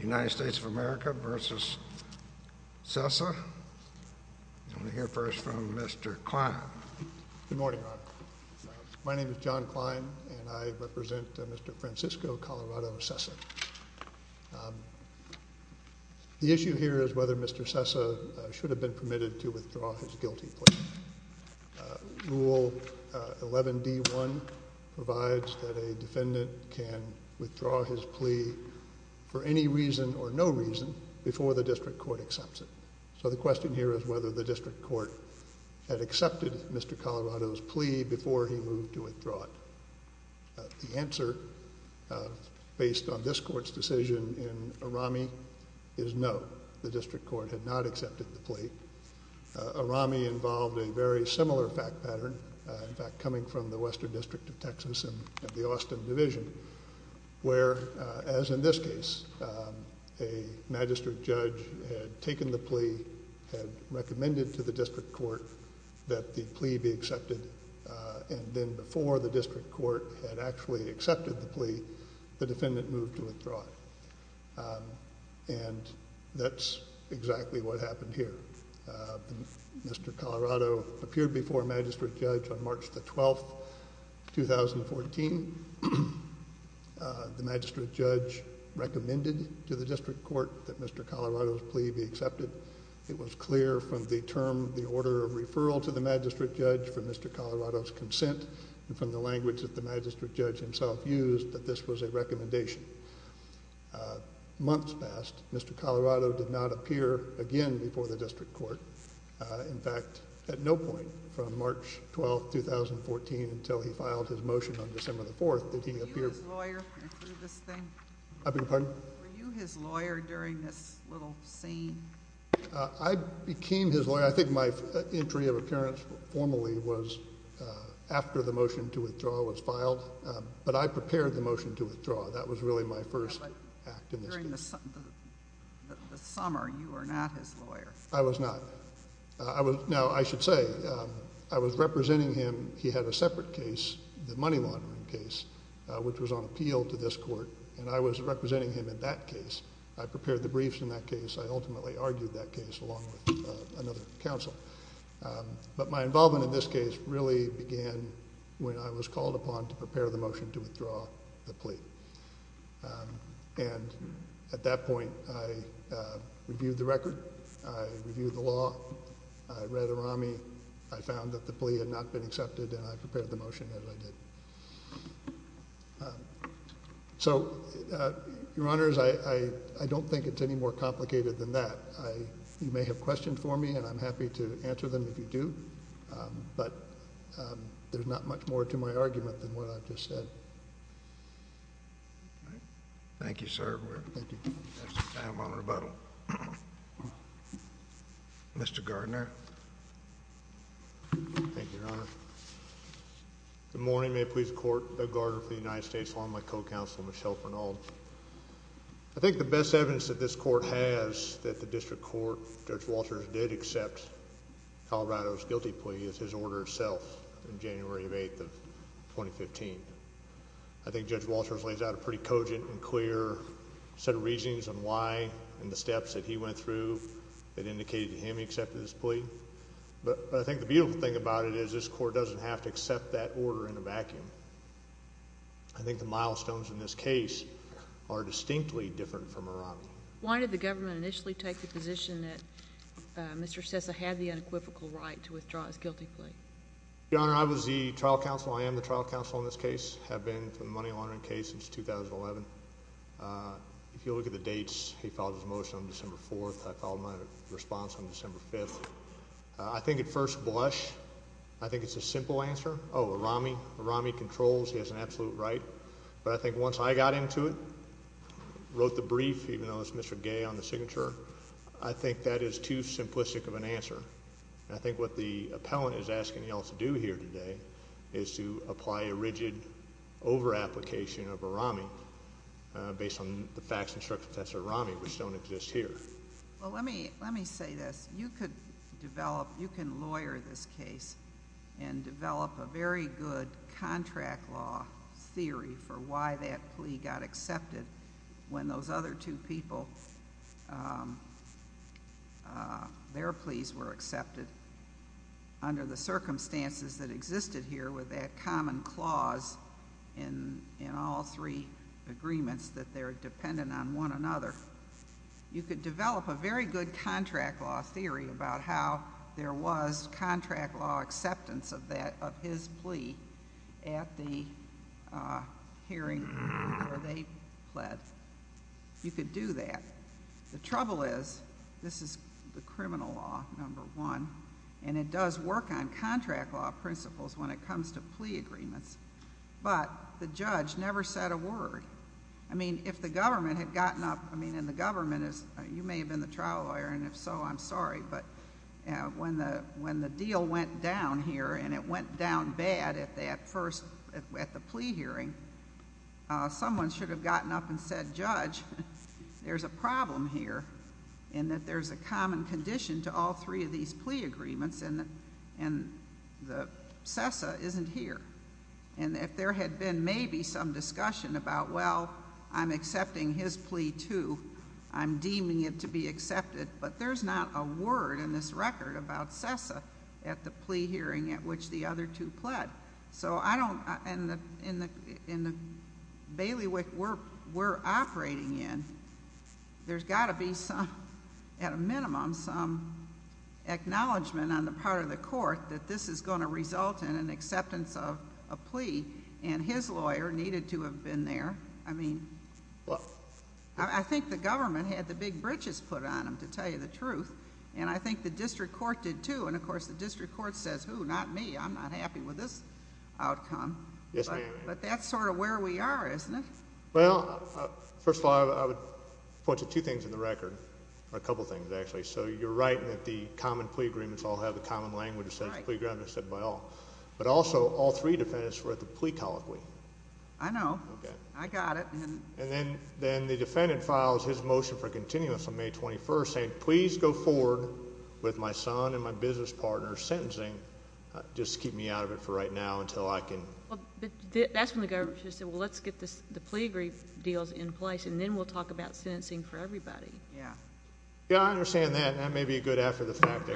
United States of America v. Cessa. I'm going to hear first from Mr. Klein. Good morning. My name is John Klein and I represent Mr. Francisco Colorado Cessa. The issue here is whether Mr. Cessa should have been permitted to withdraw his guilty plea. Rule 11d1 provides that a defendant can withdraw his plea for any reason or no reason before the district court accepts it. So the question here is whether the district court had accepted Mr. Colorado's plea before he moved to withdraw it. The answer based on this court's decision in ARAMI is no. The very similar fact pattern, in fact coming from the Western District of Texas and the Austin Division, where as in this case a magistrate judge had taken the plea, had recommended to the district court that the plea be accepted, and then before the district court had actually accepted the plea, the defendant moved to Colorado, appeared before a magistrate judge on March the 12th, 2014. The magistrate judge recommended to the district court that Mr. Colorado's plea be accepted. It was clear from the term, the order of referral to the magistrate judge, from Mr. Colorado's consent, and from the language that the magistrate judge himself used, that this was a recommendation. Months passed. Mr. Colorado's plea was accepted. The next question is whether the district court based on this court's decision in ARAMI is no. The very similar fact pattern, in in this case a magistrate judge had taken the plea, the defendant moved to Colorado. And I should say I was representing him, he had a separate case, the money laundering case, which was on appeal to this court, and I was representing him in that case. I prepared the briefs in that case, I ultimately argued that case along with another counsel. But my involvement in this case really began when I was called upon to prepare the motion to withdraw the plea. And at that point I reviewed the record, I reviewed the law, I read ARAMI, I found that the plea had not been accepted, and I prepared the motion as I did. So, Your Honors, I don't think it's any more complicated than that. You may have questioned for me, and I'm happy to answer them if you do, but there's not much more to my argument than what I've just said. Thank you, sir. I'm on rebuttal. Mr. Gardner. Thank you, Your Honor. Good morning. May it please the court, Doug Gardner for the United States Law. I'm my co-counsel, Michelle Pernold. I think the best evidence that this court has that the district court, Judge Walters, did accept Colorado's guilty plea is his order itself in January of 2015. I think Judge Walters lays out a pretty cogent and clear set of reasonings on why and the steps that he went through that indicated to him he accepted his plea. But I think the beautiful thing about it is this court doesn't have to accept that order in a vacuum. I think the milestones in this case are distinctly different from ARAMI. Why did the government initially take the position that Mr. Sessa had the equivocal right to withdraw his guilty plea? Your Honor, I was the trial counsel. I am the trial counsel in this case, have been for the money laundering case since 2011. If you look at the dates, he followed his motion on December 4th. I followed my response on December 5th. I think at first blush, I think it's a simple answer. Oh, ARAMI ARAMI controls. He has an absolute right. But I think once I got into it, wrote the brief, even though it's Mr Gay on the signature, I think that is too simplistic of an answer. I think what the appellant is asking else do here today is to apply a rigid over application of ARAMI based on the facts and circumstances of ARAMI, which don't exist here. Well, let me let me say this. You could develop. You can lawyer this case and develop a very good contract law theory for why that plea got accepted when those other two people their pleas were accepted under the circumstances that existed here with that common clause in in all three agreements that they're dependent on one another. You could develop a very good contract law theory about how there was contract law acceptance of that of his plea at the hearing where they pled. You could do that. The criminal law number one, and it does work on contract law principles when it comes to plea agreements. But the judge never said a word. I mean, if the government had gotten up, I mean, in the government is you may have been the trial lawyer, and if so, I'm sorry. But when the when the deal went down here and it went down bad at that first at the plea hearing, someone should have gotten up and said, Judge, there's a problem here and that there's a common condition to all three of these plea agreements. And and the CESA isn't here. And if there had been maybe some discussion about, well, I'm accepting his plea to I'm deeming it to be accepted. But there's not a word in this record about CESA at the plea hearing at which the other two pled. So we're operating in. There's got to be some at a minimum some acknowledgement on the part of the court that this is going to result in an acceptance of a plea. And his lawyer needed to have been there. I mean, I think the government had the big britches put on him to tell you the truth. And I think the district court did, too. And, of course, the district court says, Who? Not me. I'm not happy with this outcome. But that's sort of where we are, isn't it? Well, first of all, I would point to two things in the record. A couple things, actually. So you're right that the common plea agreements all have a common language, said playground. I said, Well, but also all three defendants were at the plea colloquy. I know I got it. And then then the defendant files his motion for continuous on May 21st, saying, Please go forward with my son and my business partner sentencing. Just keep me out of it for right now until I can. That's when the government said, Well, let's get this. The plea grief deals in place, and then we'll talk about sentencing for everybody. Yeah, I understand that. That may be good after the fact.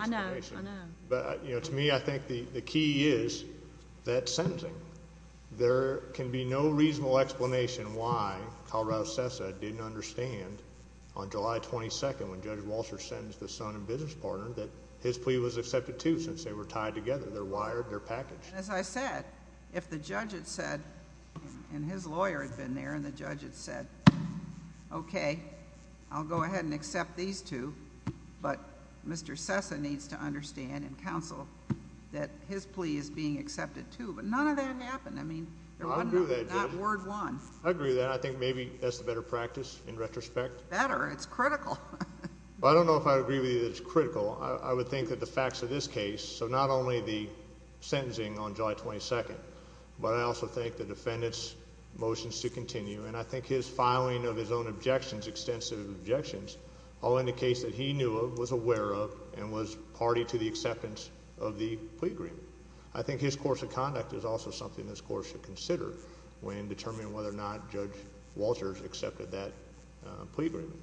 But, you know, to me, I think the key is that sentencing. There can be no reasonable explanation why Colorado says I didn't understand on July 22nd, when Judge Walsh or sentence the son and business partner that his plea was accepted to since they were tied together. They're wired their package. As I said, if the judge had said and his lawyer had been there and the judge had said, Okay, I'll go ahead and accept these two. But Mr Sesa needs to understand and counsel that his plea is being accepted, too. But none of that happened. I mean, word one. I agree that I think maybe that's a better practice. In retrospect, better. It's critical. I don't know if I agree with you. That's critical. I would think that the facts of this case, so not only the sentencing on July 22nd, but I also think the defendant's motions to continue, and I think his filing of his own objections, extensive objections all indicates that he knew of was aware of and was party to the acceptance of the plea agreement. I think his course of conduct is also something this court should consider when determining whether or not Judge Walters accepted that plea agreement.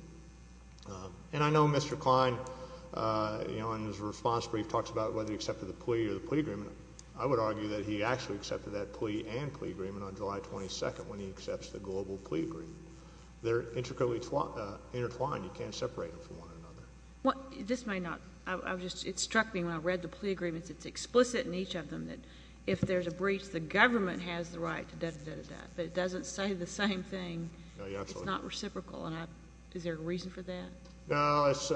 And I know Mr Klein, uh, you know, and his response brief talks about whether he accepted the plea or the plea agreement. I would argue that he actually accepted that plea and plea agreement on July 22nd when he accepts the global plea agreement. They're intricately intertwined. You can't separate them from one another. This may not. It struck me when I read the plea agreements, it's explicit in each of them that if there's a breach, the government has the right to do that. But it doesn't say the same thing. It's not reciprocal. And is there a reason for that? No, I was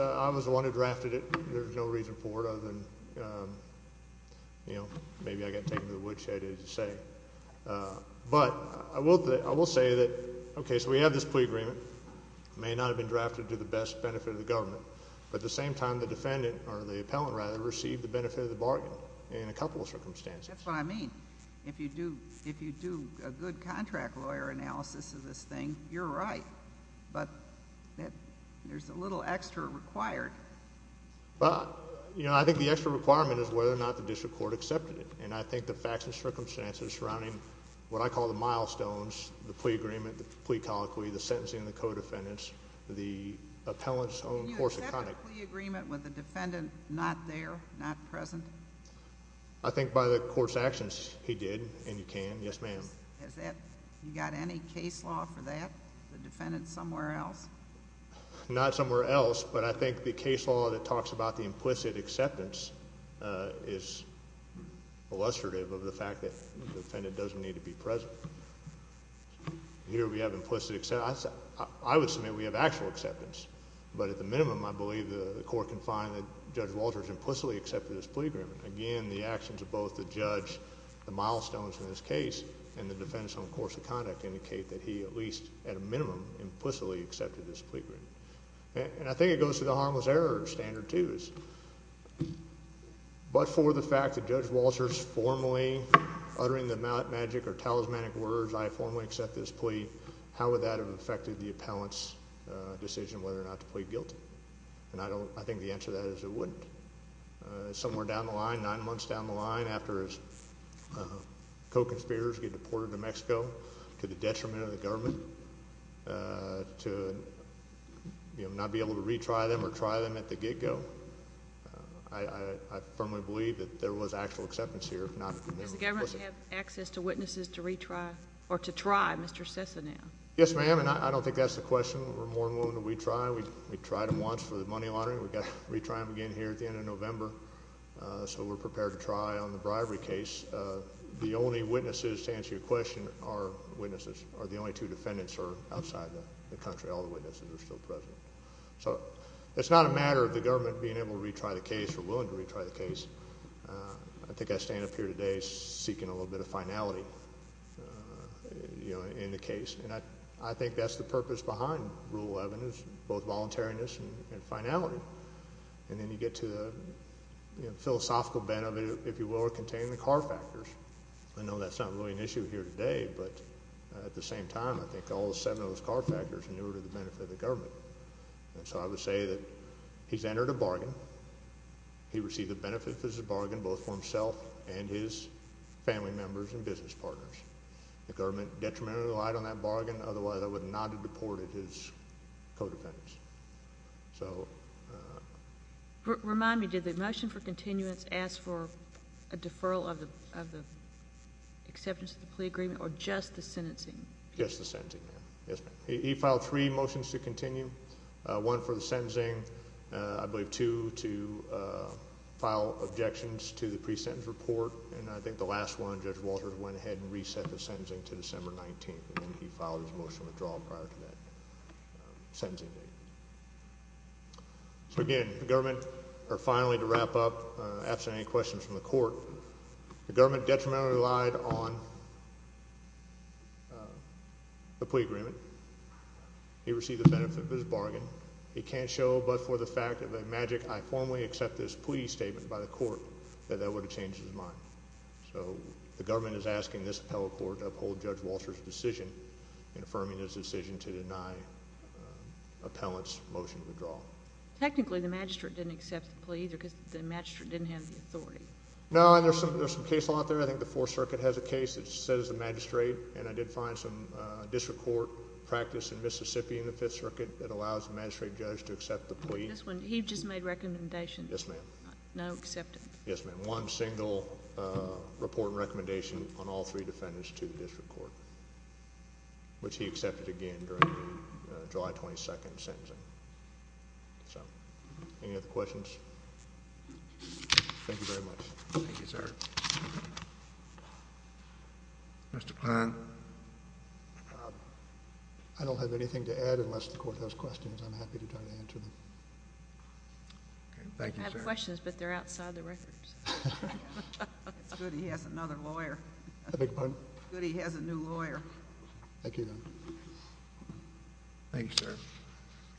the one who drafted it. There's no reason for it other than, you know, maybe I got taken to the woodshed, as you say. But I will. I will say that. Okay, so we have this plea agreement may not have been drafted to the best benefit of the government. But the same time the defendant or the appellant rather received the benefit of the bargain in a couple of circumstances. That's what I mean. If you do, if you do a good contract lawyer analysis of this thing, you're right. But there's a little extra required. But, you know, I think the extra requirement is whether or not the district court accepted it. And I think the facts and circumstances surrounding what I call the milestones, the plea agreement, the plea colloquy, the sentencing, the co defendants, the appellants own course, agreement with the defendant, not there, not present. I think by the court's actions he did. And you can. Yes, ma'am. Is that you defendant somewhere else? Not somewhere else. But I think the case law that talks about the implicit acceptance, uh, is illustrative of the fact that the defendant doesn't need to be present here. We have implicit except I would submit we have actual acceptance. But at the minimum, I believe the court can find that Judge Walter implicitly accepted his plea agreement again. The actions of both the judge, the milestones in this case and the defense on course of conduct indicate that he at least at a minimum implicitly accepted this plea agreement. And I think it goes to the harmless error standard twos. But for the fact that Judge Walter's formally uttering the magic or talismanic words, I formally accept this plea. How would that have affected the appellants decision whether or not to plead guilty? And I don't. I think the answer that is it wouldn't somewhere down the line, nine months down the line after his conspirators get deported to Mexico to the detriment of the government to not be able to retry them or try them at the get go. I firmly believe that there was actual acceptance here. If not, does the government have access to witnesses to retry or to try Mr Sisson? Yes, ma'am. And I don't think that's the question. We're more than we try. We tried him once for the money laundering. We got retry him again here at the end of witnesses to answer your question. Our witnesses are the only two defendants are outside the country. All the witnesses are still present. So it's not a matter of the government being able to retry the case or willing to retry the case. I think I stand up here today seeking a little bit of finality in the case, and I think that's the purpose behind rule 11 is both voluntariness and finality. And then you get to the philosophical benefit, if I know that's not really an issue here today, but at the same time, I think all seven of those car factors in order to the benefit of the government. And so I would say that he's entered a bargain. He received the benefit. This is a bargain both for himself and his family members and business partners. The government detriment relied on that bargain. Otherwise, I would not have deported his co defendants. So remind me, did the motion for continuance asked for a deferral of of the acceptance of the plea agreement or just the sentencing? Yes, the sentencing. He filed three motions to continue one for the sentencing. I believe to to file objections to the present report. And I think the last 100 Walter went ahead and reset the sentencing to December 19. He followed his motion withdrawal prior to that sentencing. So again, the government are finally to wrap up abstaining questions from the court. The government detriment relied on the plea agreement. He received the benefit of his bargain. He can't show, but for the fact of a magic, I formally accept this plea statement by the court that that would have changed his mind. So the government is asking this appellate court uphold Judge Walter's decision in affirming his decision to deny appellant's motion to withdraw. Technically, the magistrate didn't accept the plea because the match didn't have the authority. No, there's some there's some case law out there. I think the Fourth Circuit has a case that says the magistrate and I did find some district court practice in Mississippi in the Fifth Circuit that allows the magistrate judge to accept the plea. This one he just made recommendation. Yes, ma'am. No, accepted. Yes, ma'am. One single report recommendation on all three defendants to the district court, which he accepted again during July 22nd sentencing. So any other questions? Thank you very much. Thank you, sir. Thank you. Mr. Plan. I don't have anything to add unless the court has questions. I'm happy to try to answer them. Thank you. Questions. But they're outside the records. It's good. He has another lawyer. Good. He has a new lawyer. Thank you. Thank you, sir.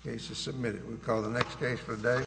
Case is submitted. We call the next case for the day.